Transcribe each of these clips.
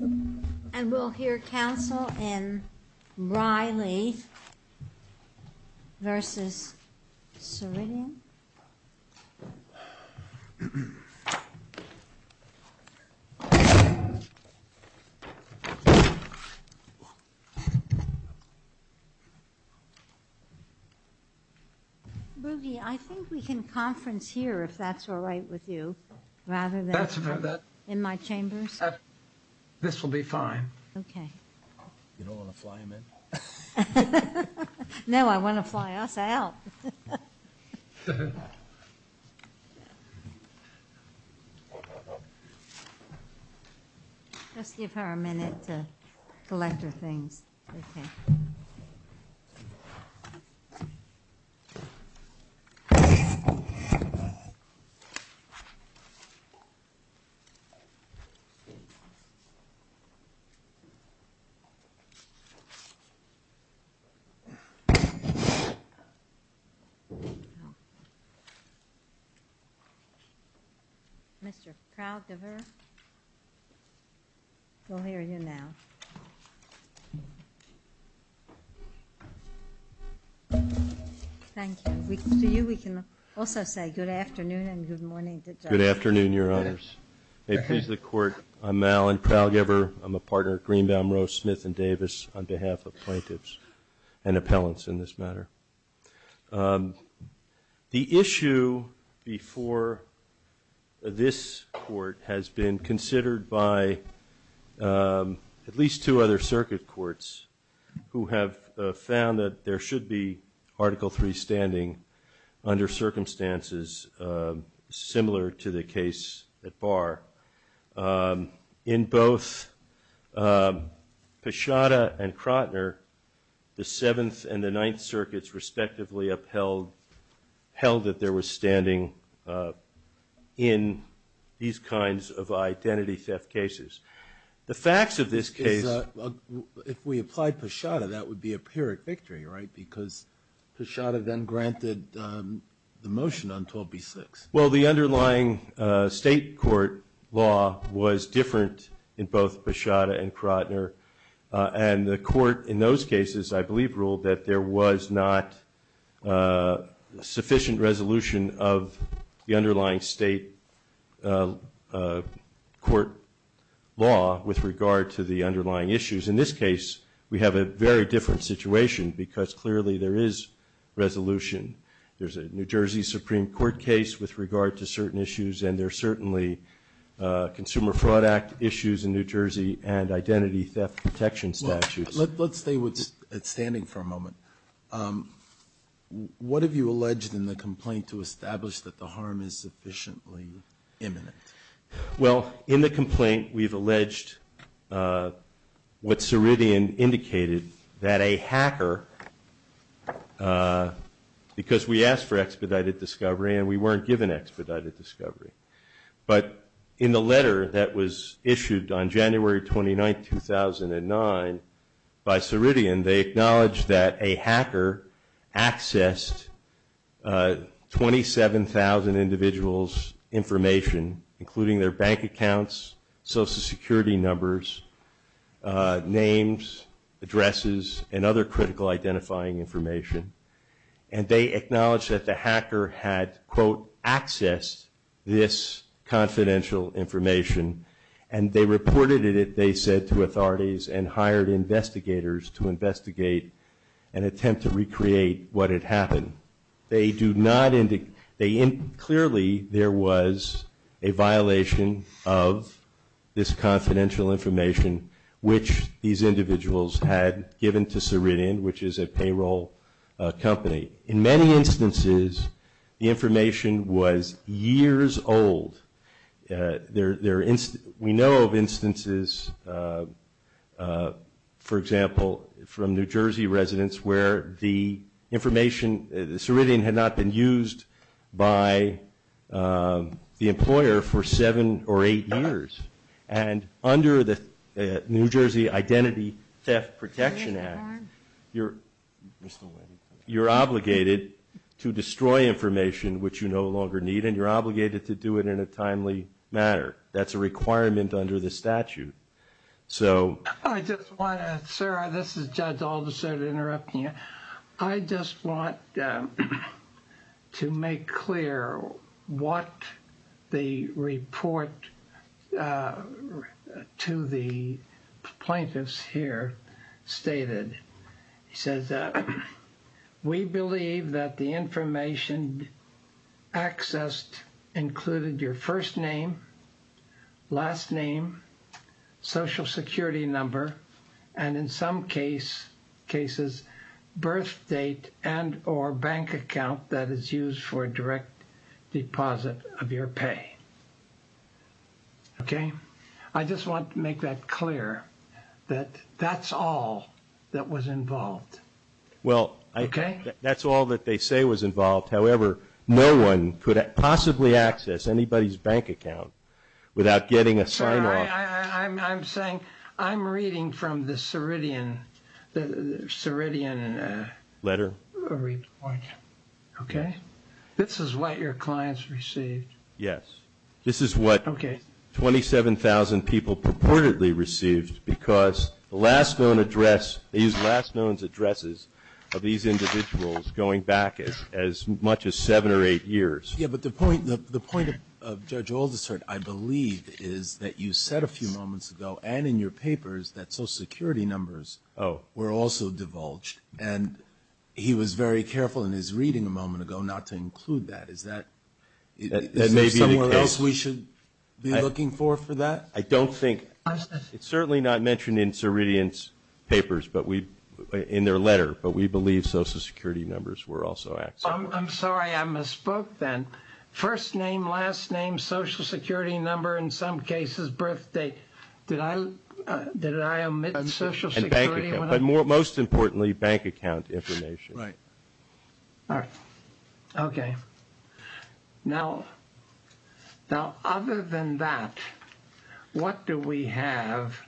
And we'll hear counsel in Reilly v. Ceridian. Ruggie, I think we can conference here if that's all right with you rather than in my chambers. This will be fine. Okay. You don't want to fly him in? No, I want to fly us out. Mr. Proudgever, we'll hear you now. Thank you. To you we can also say good afternoon and good morning to the judge. Good afternoon, Your Honors. May it please the court, I'm Alan Proudgever. I'm a partner at Greenbaum, Rose, Smith & Davis on behalf of plaintiffs and appellants in this matter. The issue before this court has been considered by at least two other circuit courts who have found that there should be Article III standing under circumstances similar to the case at Barr. In both Pashata and Krotner, the Seventh and the Ninth Circuits respectively upheld that there was standing in these kinds of identity theft cases. The facts of this case... If we applied Pashata, that would be a pyrrhic victory, right? Because Pashata then granted the motion on 12b-6. Well, the underlying state court law was different in both Pashata and Krotner. And the court in those cases, I believe, ruled that there was not sufficient resolution of the underlying state court law with regard to the underlying issues. In this case, we have a very different situation because clearly there is resolution. There's a New Jersey Supreme Court case with regard to certain issues, and there are certainly Consumer Fraud Act issues in New Jersey and identity theft protection statutes. Let's stay standing for a moment. What have you alleged in the complaint to establish that the harm is sufficiently imminent? Well, in the complaint, we've alleged what Ceridian indicated, that a hacker, because we asked for expedited discovery and we weren't given expedited discovery, but in the letter that was issued on January 29, 2009, by Ceridian, they acknowledged that a hacker accessed 27,000 individuals' information, including their bank accounts, Social Security numbers, names, addresses, and other critical identifying information. And they acknowledged that the hacker had, quote, accessed this confidential information, and they reported it, they said, to authorities and hired investigators to investigate and attempt to recreate what had happened. They do not indicate, clearly there was a violation of this confidential information, which these individuals had given to Ceridian, which is a payroll company. In many instances, the information was years old. We know of instances, for example, from New Jersey residents, where the information, the Ceridian had not been used by the employer for seven or eight years. And under the New Jersey Identity Theft Protection Act, you're obligated to destroy information, which you no longer need, and you're obligated to do it in a timely manner. That's a requirement under the statute. I just want to, sir, this is Judge Alderson interrupting you. I just want to make clear what the report to the plaintiffs here stated. He says, we believe that the information accessed included your first name, last name, social security number, and in some cases, birth date and or bank account that is used for a direct deposit of your pay. Okay. I just want to make that clear that that's all that was involved. Well, that's all that they say was involved. However, no one could possibly access anybody's bank account without getting a sign off. I'm sorry. I'm saying I'm reading from the Ceridian. The Ceridian. Letter. Report. Okay. This is what your clients received. Yes. This is what 27,000 people purportedly received because the last known address, these last known addresses of these individuals going back as much as seven or eight years. Yeah, but the point of Judge Alderson, I believe, is that you said a few moments ago and in your papers that social security numbers were also divulged. And he was very careful in his reading a moment ago not to include that. Is there somewhere else we should be looking for for that? I don't think. It's certainly not mentioned in Ceridian's papers in their letter, but we believe social security numbers were also accessed. I'm sorry. I misspoke then. First name, last name, social security number, in some cases, birth date. Did I omit social security? Most importantly, bank account information. Right. All right. Okay. Now, other than that, what do we have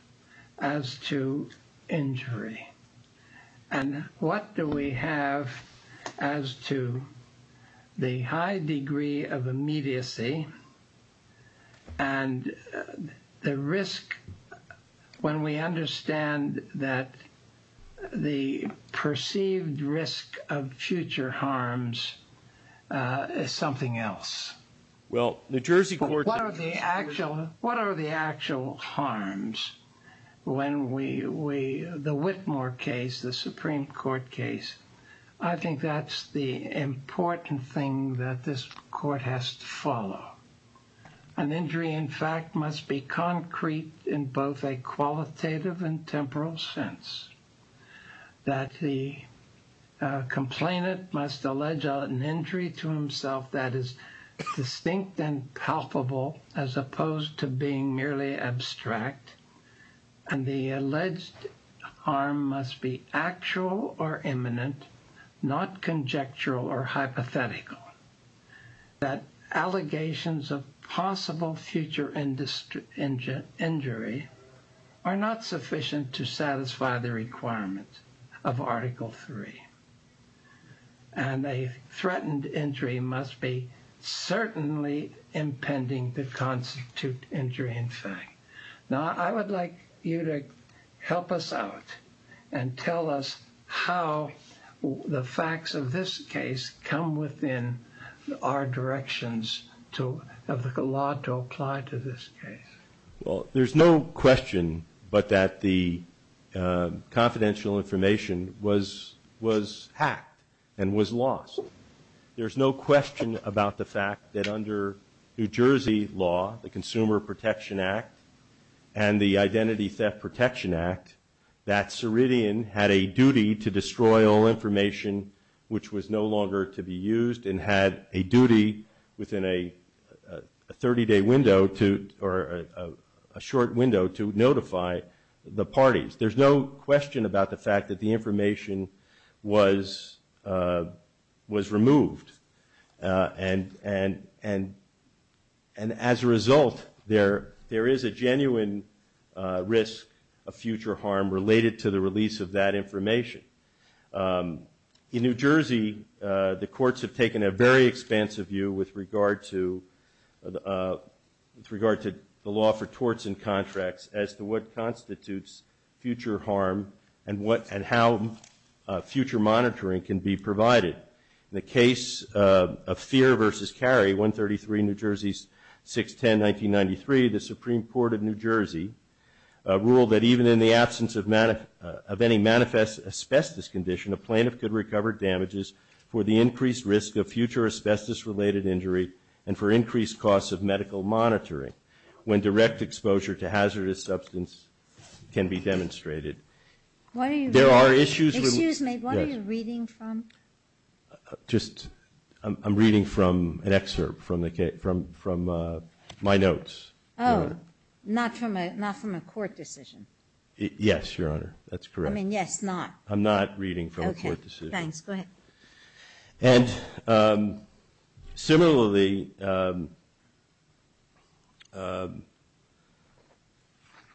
as to injury? And what do we have as to the high degree of immediacy and the risk when we understand that the perceived risk of future harms is something else? Well, the Jersey court… What are the actual harms when we… The Whitmore case, the Supreme Court case, I think that's the important thing that this court has to follow. An injury, in fact, must be concrete in both a qualitative and temporal sense, that the complainant must allege an injury to himself that is distinct and palpable as opposed to being merely abstract, and the alleged harm must be actual or imminent, not conjectural or hypothetical, that allegations of possible future injury are not sufficient to satisfy the requirement of Article 3. And a threatened injury must be certainly impending the constitute injury, in fact. Now, I would like you to help us out and tell us how the facts of this case come within our directions of the law to apply to this case. Well, there's no question but that the confidential information was hacked and was lost. There's no question about the fact that under New Jersey law, the Consumer Protection Act and the Identity Theft Protection Act, that Ceridian had a duty to destroy all information which was no longer to be used and had a duty within a 30-day window or a short window to notify the parties. There's no question about the fact that the information was removed. And as a result, there is a genuine risk of future harm related to the release of that information. In New Jersey, the courts have taken a very expansive view with regard to the law for torts and contracts as to what constitutes future harm and how future monitoring can be provided. In the case of Fear v. Cary, 133, New Jersey 610, 1993, the Supreme Court of New Jersey ruled that even in the absence of any manifest asbestos condition, a plaintiff could recover damages for the increased risk of future asbestos-related injury and for increased costs of medical monitoring when direct exposure to hazardous substance can be demonstrated. There are issues. Excuse me, what are you reading from? I'm reading from an excerpt from my notes. Oh, not from a court decision. Yes, Your Honor, that's correct. I mean, yes, not. I'm not reading from a court decision. Okay, thanks. Go ahead. And similarly,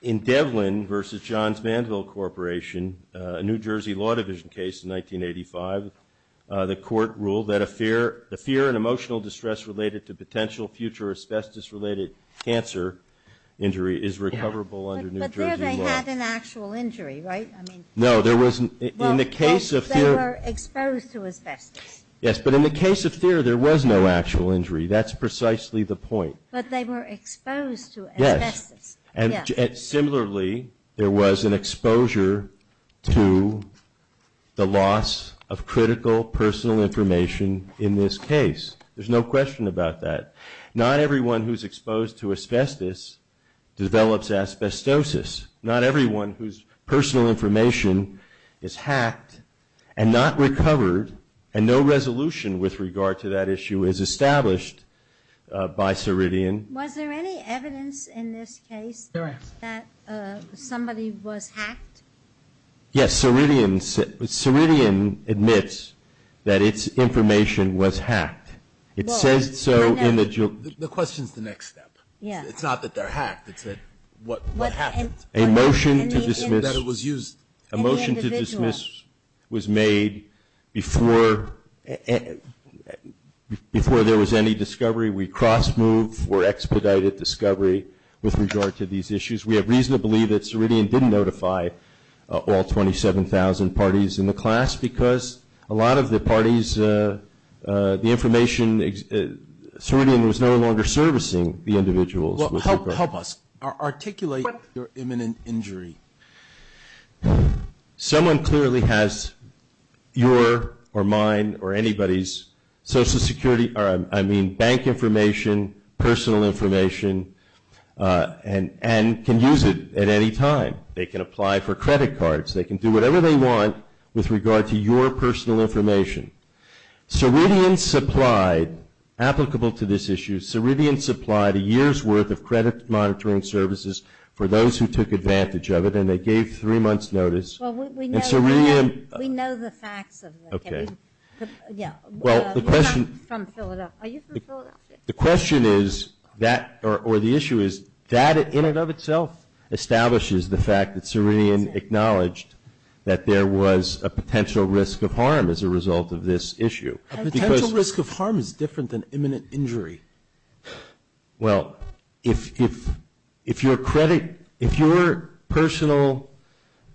in Devlin v. Johns Manville Corporation, a New Jersey Law Division case in 1985, the court ruled that a fear and emotional distress related to potential future asbestos-related cancer injury is recoverable under New Jersey law. But there they had an actual injury, right? No, there wasn't. Well, they were exposed to asbestos. Yes, but in the case of fear, there was no actual injury. That's precisely the point. But they were exposed to asbestos. Yes, and similarly, there was an exposure to the loss of critical personal information in this case. There's no question about that. Not everyone who's exposed to asbestos develops asbestosis. Not everyone whose personal information is hacked and not recovered, and no resolution with regard to that issue is established by Ceridian. Was there any evidence in this case that somebody was hacked? Yes, Ceridian admits that its information was hacked. It says so in the jury. The question is the next step. Yes. It's not that they're hacked. It's what happened. A motion to dismiss was made before there was any discovery. We cross-moved for expedited discovery with regard to these issues. We have reason to believe that Ceridian didn't notify all 27,000 parties in the class because a lot of the parties, the information, Ceridian was no longer servicing the individuals. Well, help us. Articulate your imminent injury. Someone clearly has your or mine or anybody's Social Security, I mean bank information, personal information, and can use it at any time. They can apply for credit cards. They can do whatever they want with regard to your personal information. Ceridian supplied, applicable to this issue, Ceridian supplied a year's worth of credit monitoring services for those who took advantage of it, and they gave three months' notice. Well, we know the facts of it. Okay. Yeah. You're not from Philadelphia. Are you from Philadelphia? The question is that or the issue is that in and of itself establishes the fact that Ceridian acknowledged that there was a potential risk of harm as a result of this issue. A potential risk of harm is different than imminent injury. Well, if your personal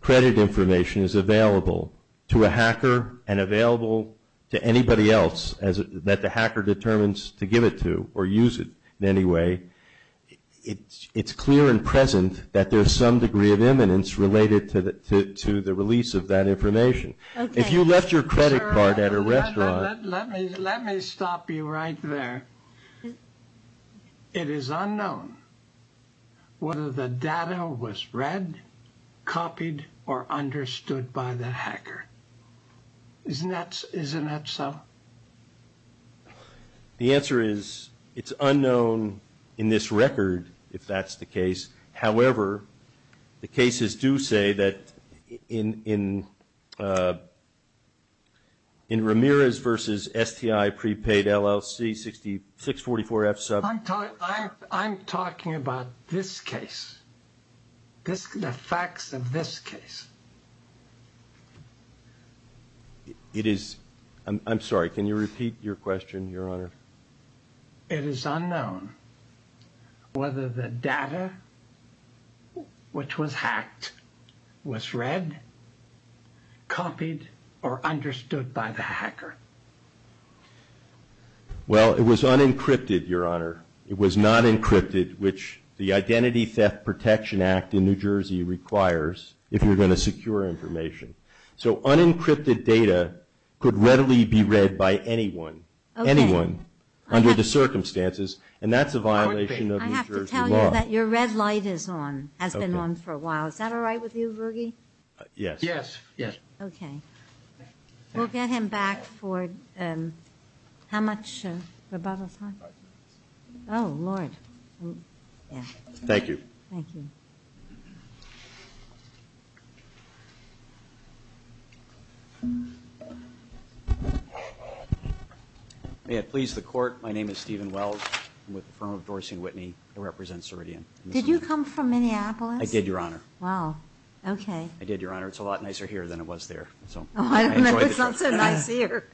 credit information is available to a hacker and available to anybody else that the hacker determines to give it to or use it in any way, it's clear and present that there's some degree of imminence related to the release of that information. Okay. You left your credit card at a restaurant. Let me stop you right there. It is unknown whether the data was read, copied, or understood by the hacker. Isn't that so? The answer is it's unknown in this record if that's the case. However, the cases do say that in Ramirez v. STI prepaid LLC 644F sub. I'm talking about this case, the facts of this case. I'm sorry. Can you repeat your question, Your Honor? It is unknown whether the data which was hacked was read, copied, or understood by the hacker. Well, it was unencrypted, Your Honor. It was not encrypted, which the Identity Theft Protection Act in New Jersey requires if you're going to secure information. So unencrypted data could readily be read by anyone. Okay. Anyone under the circumstances, and that's a violation of New Jersey law. I have to tell you that your red light is on, has been on for a while. Is that all right with you, Ruggie? Yes. Yes. Yes. Okay. We'll get him back for how much? Five minutes. Oh, Lord. Thank you. Thank you. May it please the Court. My name is Stephen Wells. I'm with the firm of Dorsey & Whitney. I represent Ceridian. Did you come from Minneapolis? I did, Your Honor. Wow. Okay. I did, Your Honor. It's a lot nicer here than it was there. Oh, I don't know. It's not so nice here.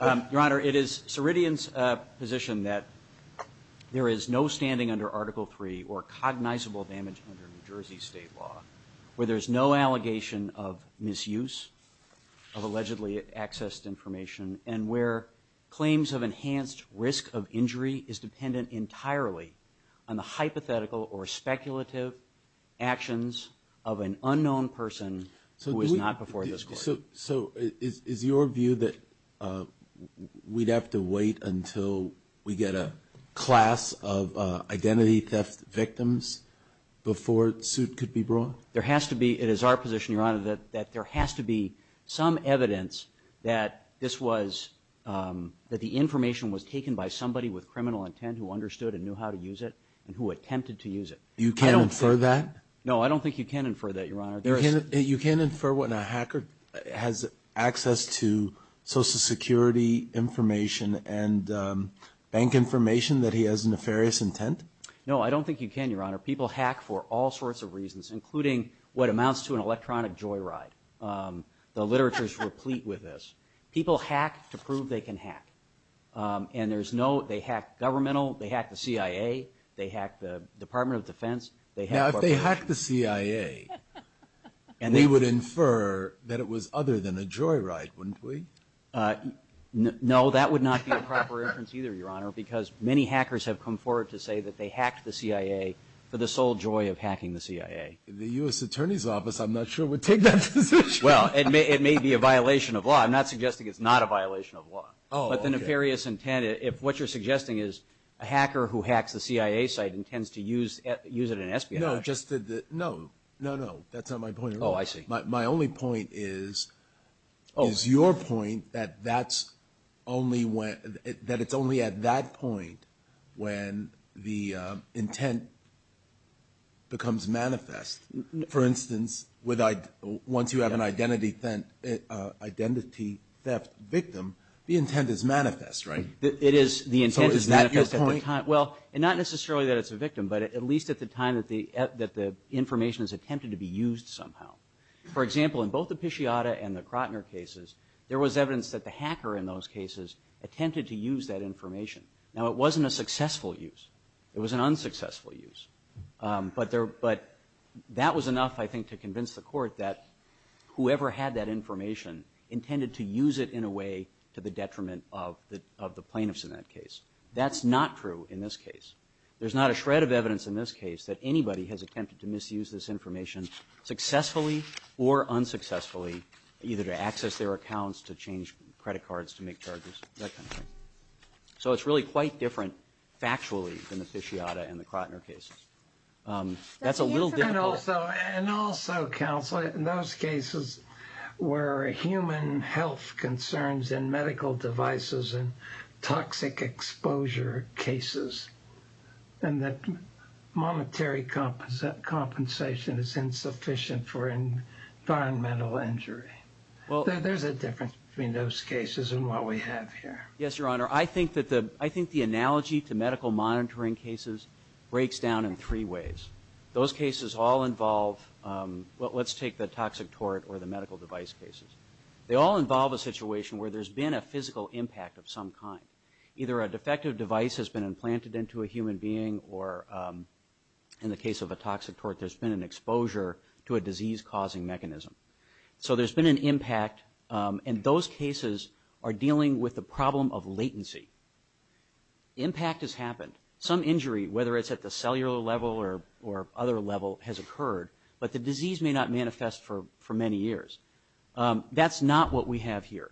Your Honor, it is Ceridian's position that there is no standing under Article III or cognizable damage under New Jersey state law where there's no allegation of misuse of where claims of enhanced risk of injury is dependent entirely on the hypothetical or speculative actions of an unknown person who is not before this Court. So is your view that we'd have to wait until we get a class of identity theft victims before the suit could be brought? There has to be. It is our position, Your Honor, that there has to be some evidence that the information was taken by somebody with criminal intent who understood and knew how to use it and who attempted to use it. You can't infer that? No, I don't think you can infer that, Your Honor. You can't infer when a hacker has access to Social Security information and bank information that he has nefarious intent? Your Honor, people hack for all sorts of reasons, including what amounts to an electronic joyride. The literature is replete with this. People hack to prove they can hack, and there's no they hack governmental, they hack the CIA, they hack the Department of Defense. Now, if they hack the CIA, we would infer that it was other than a joyride, wouldn't we? No, that would not be a proper inference either, Your Honor, because many hackers have come forward to say that they hacked the CIA for the sole joy of hacking the CIA. The U.S. Attorney's Office, I'm not sure, would take that position. Well, it may be a violation of law. I'm not suggesting it's not a violation of law. Oh, okay. But the nefarious intent, if what you're suggesting is a hacker who hacks the CIA site intends to use it in espionage. No, no, no, that's not my point at all. Oh, I see. My only point is your point that it's only at that point when the intent becomes manifest. For instance, once you have an identity theft victim, the intent is manifest, right? It is. So is that your point? But at least at the time that the information is attempted to be used somehow. For example, in both the Piciotta and the Krotner cases, there was evidence that the hacker in those cases attempted to use that information. Now, it wasn't a successful use. It was an unsuccessful use. But that was enough, I think, to convince the court that whoever had that information intended to use it in a way to the detriment of the plaintiffs in that case. That's not true in this case. There's not a shred of evidence in this case that anybody has attempted to misuse this information successfully or unsuccessfully, either to access their accounts, to change credit cards, to make charges, that kind of thing. So it's really quite different factually than the Piciotta and the Krotner cases. That's a little different. And also, counsel, in those cases were human health concerns and medical devices and toxic exposure cases, and that monetary compensation is insufficient for environmental injury. There's a difference between those cases and what we have here. Yes, Your Honor. I think the analogy to medical monitoring cases breaks down in three ways. Those cases all involve, well, let's take the toxic tort or the medical device cases. They all involve a situation where there's been a physical impact of some kind. Either a defective device has been implanted into a human being or, in the case of a toxic tort, there's been an exposure to a disease-causing mechanism. So there's been an impact, and those cases are dealing with the problem of latency. Impact has happened. Some injury, whether it's at the cellular level or other level, has occurred, but the disease may not manifest for many years. That's not what we have here.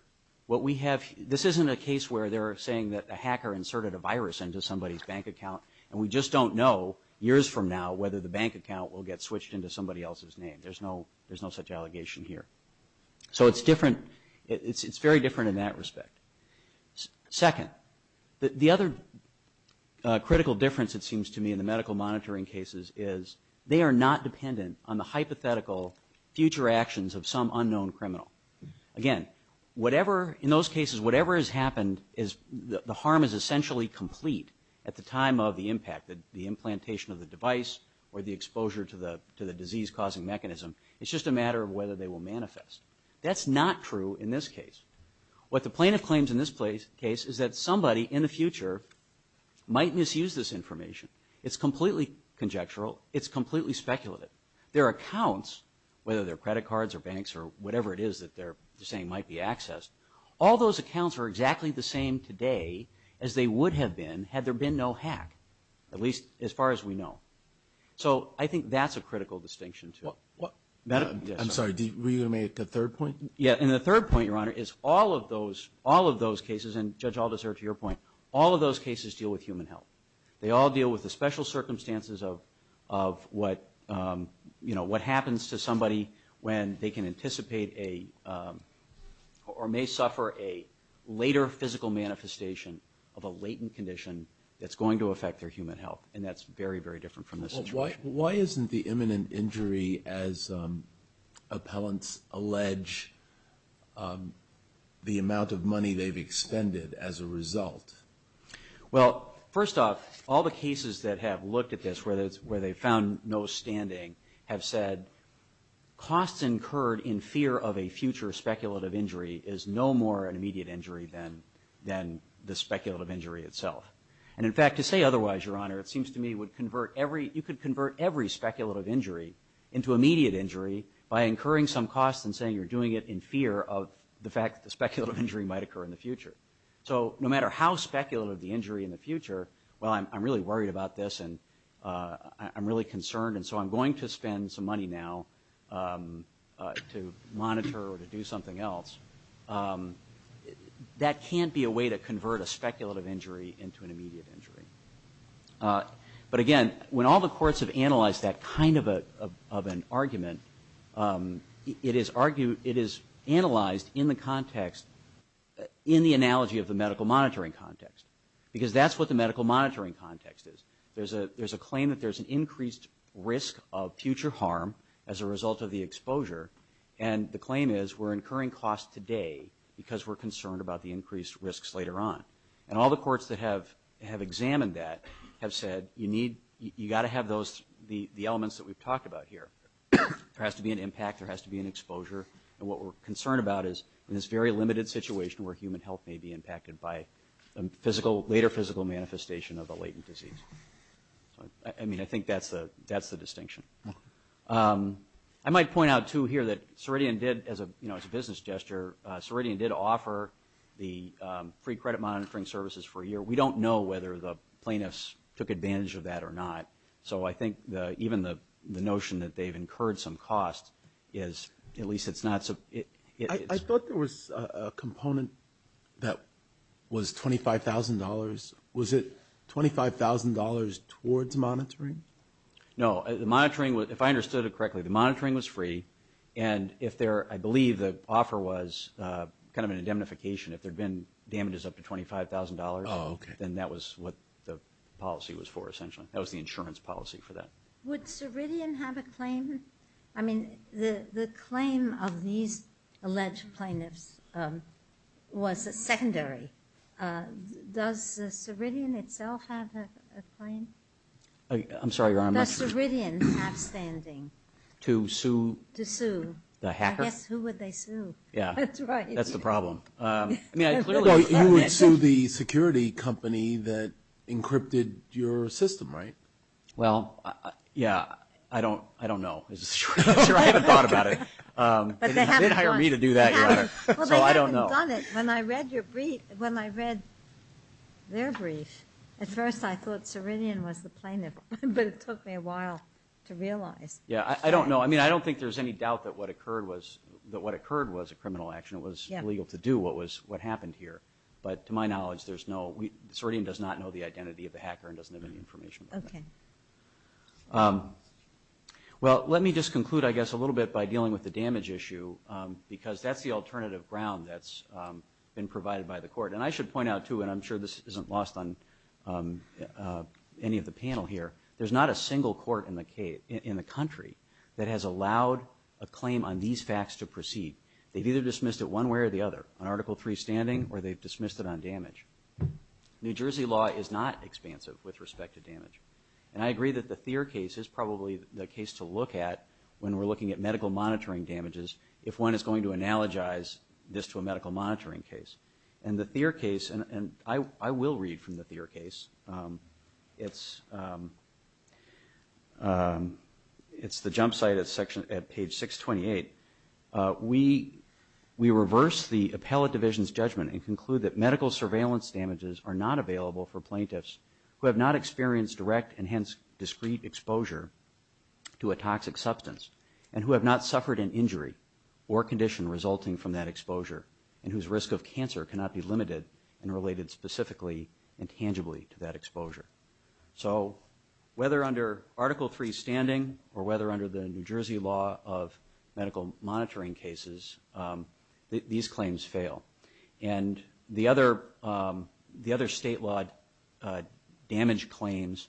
This isn't a case where they're saying that a hacker inserted a virus into somebody's bank account, and we just don't know years from now whether the bank account will get switched into somebody else's name. There's no such allegation here. So it's different. It's very different in that respect. Second, the other critical difference, it seems to me, in the medical monitoring cases is they are not dependent on the hypothetical future actions of some unknown criminal. Again, in those cases, whatever has happened, the harm is essentially complete at the time of the impact, the implantation of the device or the exposure to the disease-causing mechanism. It's just a matter of whether they will manifest. That's not true in this case. What the plaintiff claims in this case is that somebody in the future might misuse this information. It's completely conjectural. It's completely speculative. Their accounts, whether they're credit cards or banks or whatever it is that they're saying might be accessed, all those accounts are exactly the same today as they would have been had there been no hack, at least as far as we know. So I think that's a critical distinction, too. I'm sorry. Were you going to make a third point? Yeah, and the third point, Your Honor, is all of those cases, and, Judge Aldous, to your point, all of those cases deal with human health. They all deal with the special circumstances of what happens to somebody when they can anticipate or may suffer a later physical manifestation of a latent condition that's going to affect their human health, and that's very, very different from this situation. Why isn't the imminent injury, as appellants allege, the amount of money they've expended as a result? Well, first off, all the cases that have looked at this where they've found no standing have said costs incurred in fear of a future speculative injury is no more an immediate injury than the speculative injury itself. And, in fact, to say otherwise, Your Honor, it seems to me you could convert every speculative injury into immediate injury by incurring some costs and saying you're doing it in fear of the fact that the speculative injury might occur in the future. So no matter how speculative the injury in the future, well, I'm really worried about this, and I'm really concerned, and so I'm going to spend some money now to monitor or to do something else. That can't be a way to convert a speculative injury into an immediate injury. But, again, when all the courts have analyzed that kind of an argument, it is analyzed in the context, in the analogy of the medical monitoring context, because that's what the medical monitoring context is. There's a claim that there's an increased risk of future harm as a result of the exposure, and the claim is we're incurring costs today because we're concerned about the increased risks later on. And all the courts that have examined that have said you need, you've got to have those, the elements that we've talked about here. There has to be an impact. There has to be an exposure. And what we're concerned about is in this very limited situation where human health may be impacted by a later physical manifestation of a latent disease. I mean, I think that's the distinction. I might point out, too, here that Ceridian did, as a business gesture, Ceridian did offer the free credit monitoring services for a year. We don't know whether the plaintiffs took advantage of that or not. So I think even the notion that they've incurred some costs is at least it's not so. I thought there was a component that was $25,000. Was it $25,000 towards monitoring? No. The monitoring was, if I understood it correctly, the monitoring was free. And if there, I believe the offer was kind of an indemnification. If there had been damages up to $25,000, then that was what the policy was for essentially. That was the insurance policy for that. Would Ceridian have a claim? I mean, the claim of these alleged plaintiffs was secondary. Does Ceridian itself have a claim? I'm sorry, Your Honor, I'm not sure. Does Ceridian have standing? To sue? To sue. The hacker? I guess, who would they sue? Yeah. That's right. That's the problem. You would sue the security company that encrypted your system, right? Well, yeah, I don't know. I haven't thought about it. But they haven't done it. They didn't hire me to do that, Your Honor, so I don't know. Well, they haven't done it. When I read their brief, at first I thought Ceridian was the plaintiff, but it took me a while to realize. Yeah, I don't know. I mean, I don't think there's any doubt that what occurred was a criminal action. It was illegal to do what happened here. But to my knowledge, Ceridian does not know the identity of the hacker and doesn't have any information about that. Okay. Well, let me just conclude, I guess, a little bit by dealing with the damage issue because that's the alternative ground that's been provided by the court. And I should point out, too, and I'm sure this isn't lost on any of the panel here, there's not a single court in the country that has allowed a claim on these facts to proceed. They've either dismissed it one way or the other, on Article III standing or they've dismissed it on damage. New Jersey law is not expansive with respect to damage. And I agree that the Thier case is probably the case to look at when we're looking at medical monitoring damages if one is going to analogize this to a medical monitoring case. And the Thier case, and I will read from the Thier case. It's the jump site at page 628. We reverse the appellate division's judgment and conclude that medical surveillance damages are not available for plaintiffs who have not experienced direct and hence discrete exposure to a toxic substance and who have not suffered an injury or condition resulting from that exposure and whose risk of cancer cannot be limited and related specifically and tangibly to that exposure. So whether under Article III standing or whether under the New Jersey law of medical monitoring cases, these claims fail. And the other state-lawed damage claims,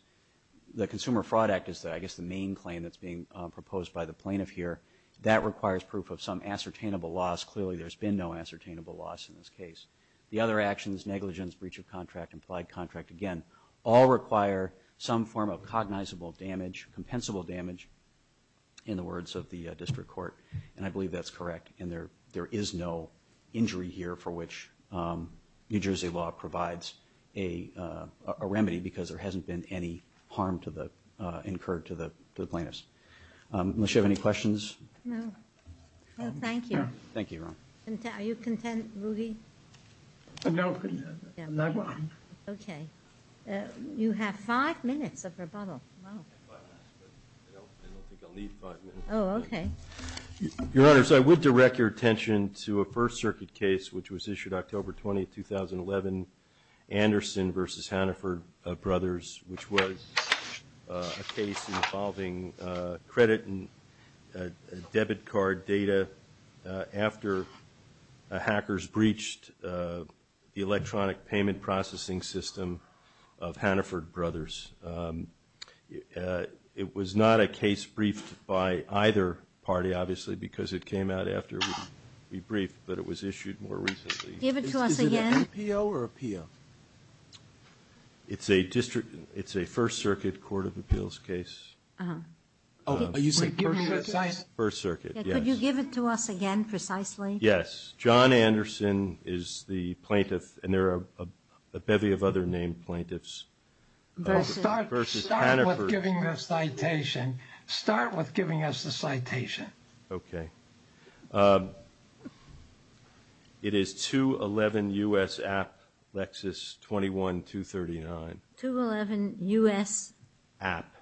the Consumer Fraud Act is I guess the main claim that's being proposed by the plaintiff here. That requires proof of some ascertainable loss. Clearly there's been no ascertainable loss in this case. The other actions, negligence, breach of contract, implied contract, again, all require some form of cognizable damage, compensable damage, in the words of the district court, and I believe that's correct. And there is no injury here for which New Jersey law provides a remedy because there hasn't been any harm incurred to the plaintiffs. Unless you have any questions. No. No, thank you. Thank you, Your Honor. Are you content, Rudy? No, I'm not content. Okay. You have five minutes of rebuttal. I have five minutes, but I don't think I'll need five minutes. Oh, okay. Your Honors, I would direct your attention to a First Circuit case, which was issued October 20, 2011, Anderson v. Hannaford Brothers, which was a case involving credit and debit card data after hackers breached the electronic payment processing system of Hannaford Brothers. It was not a case briefed by either party, obviously, because it came out after we briefed, but it was issued more recently. Give it to us again. Is it an APO or a PO? It's a First Circuit court of appeals case. Oh, are you saying First Circuit? First Circuit, yes. Could you give it to us again precisely? Yes. John Anderson is the plaintiff, and there are a bevy of other named plaintiffs. Start with giving the citation. Start with giving us the citation. Okay. It is 211 U.S. App, Lexus 21239. 211 U.S. App.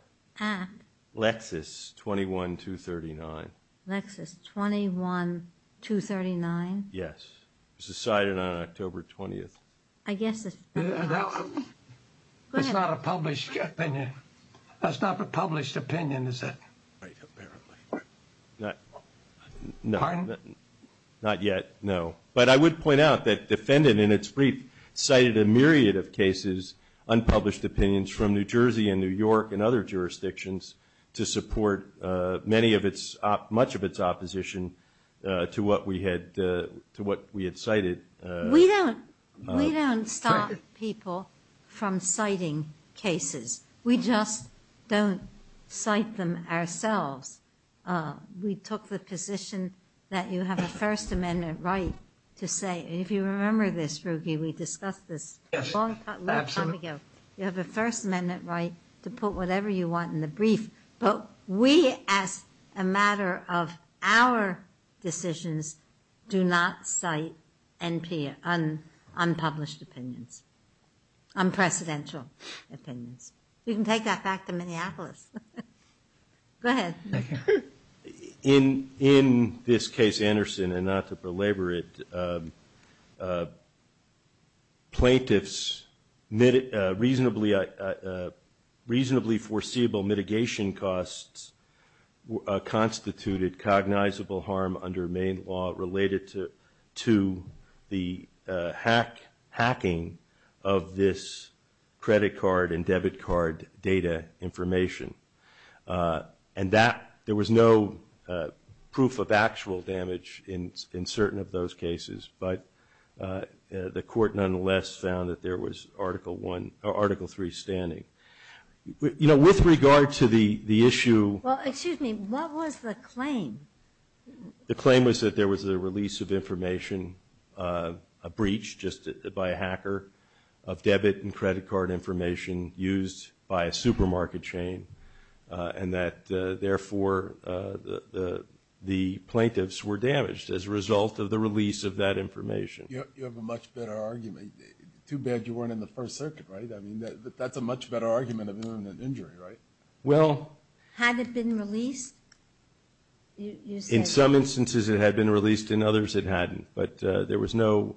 Lexus 21239. Lexus 21239. Yes. It was decided on October 20. It's not a published opinion. That's not a published opinion, is it? Right, apparently. Pardon? Not yet, no. But I would point out that defendant in its brief cited a myriad of cases, unpublished opinions from New Jersey and New York and other jurisdictions to support much of its opposition to what we had cited. We don't stop people from citing cases. We just don't cite them ourselves. We took the position that you have a First Amendment right to say, and if you remember this, Ruggie, we discussed this a long time ago, you have a First Amendment right to put whatever you want in the brief. But we, as a matter of our decisions, do not cite unpublished opinions, unprecedented opinions. You can take that back to Minneapolis. Go ahead. Thank you. In this case, Anderson, and not to belabor it, plaintiffs' reasonably foreseeable mitigation costs constituted cognizable harm under Maine law related to the hacking of this credit card and debit card data information. And there was no proof of actual damage in certain of those cases. But the court nonetheless found that there was Article I or Article III standing. You know, with regard to the issue. Well, excuse me, what was the claim? The claim was that there was a release of information, a breach just by a hacker, of debit and credit card information used by a supermarket chain, and that, therefore, the plaintiffs were damaged as a result of the release of that information. You have a much better argument. Too bad you weren't in the First Circuit, right? I mean, that's a much better argument of an injury, right? Well. Had it been released? In some instances, it had been released. In others, it hadn't. But there was no.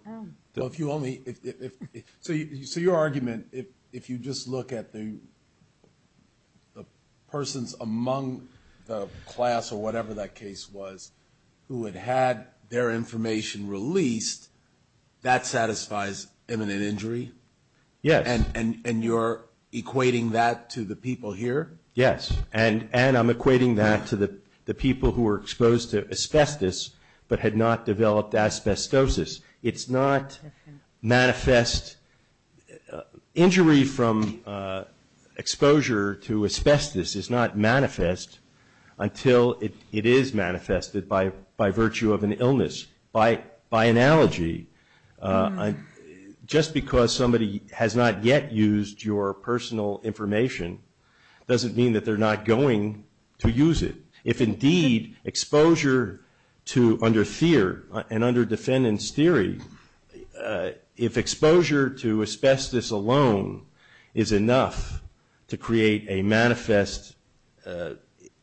So your argument, if you just look at the persons among the class or whatever that case was who had had their information released, that satisfies imminent injury? Yes. And you're equating that to the people here? Yes. And I'm equating that to the people who were exposed to asbestos but had not developed asbestosis. It's not manifest. Injury from exposure to asbestos is not manifest until it is manifested by virtue of an illness. By analogy, just because somebody has not yet used your personal information doesn't mean that they're not going to use it. If indeed exposure to, under fear and under defendant's theory, if exposure to asbestos alone is enough to create a manifest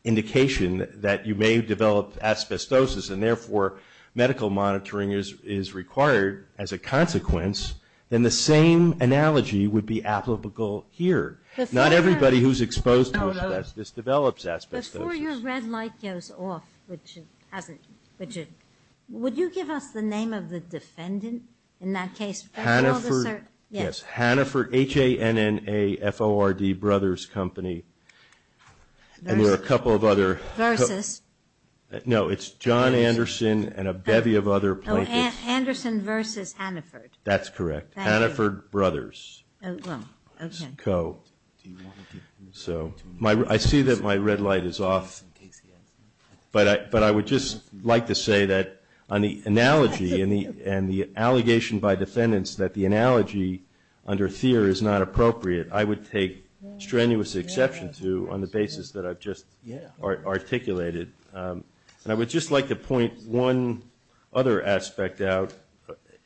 indication that you may develop asbestosis and, therefore, medical monitoring is required as a consequence, then the same analogy would be applicable here. Not everybody who's exposed to asbestos develops asbestosis. Before your red light goes off, which it hasn't, would you give us the name of the defendant in that case? Haniford. Yes. Haniford, H-A-N-N-A-F-O-R-D Brothers Company. And there are a couple of other. Versus. No, it's John Anderson and a bevy of other plaintiffs. Oh, Anderson versus Haniford. That's correct. Thank you. Haniford Brothers Co. I see that my red light is off, but I would just like to say that on the analogy and the allegation by defendants that the analogy under fear is not appropriate, I would take strenuous exception to on the basis that I've just articulated. And I would just like to point one other aspect out.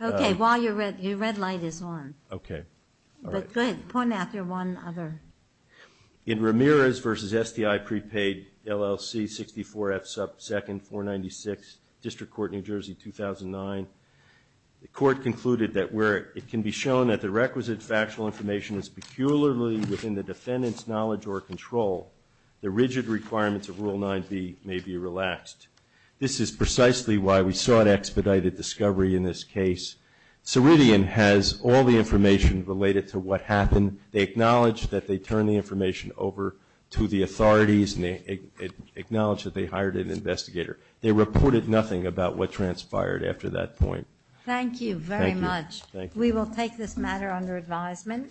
Okay, while your red light is on. Okay. But good. Point out your one other. In Ramirez versus STI prepaid LLC 64F 2nd 496, District Court, New Jersey 2009, the court concluded that where it can be shown that the requisite factual information is peculiarly within the defendant's knowledge or control, the rigid requirements of Rule 9B may be relaxed. This is precisely why we sought expedited discovery in this case. Ceridian has all the information related to what happened. They acknowledged that they turned the information over to the authorities and they acknowledged that they hired an investigator. They reported nothing about what transpired after that point. Thank you very much. Thank you. We will take this matter under advisement.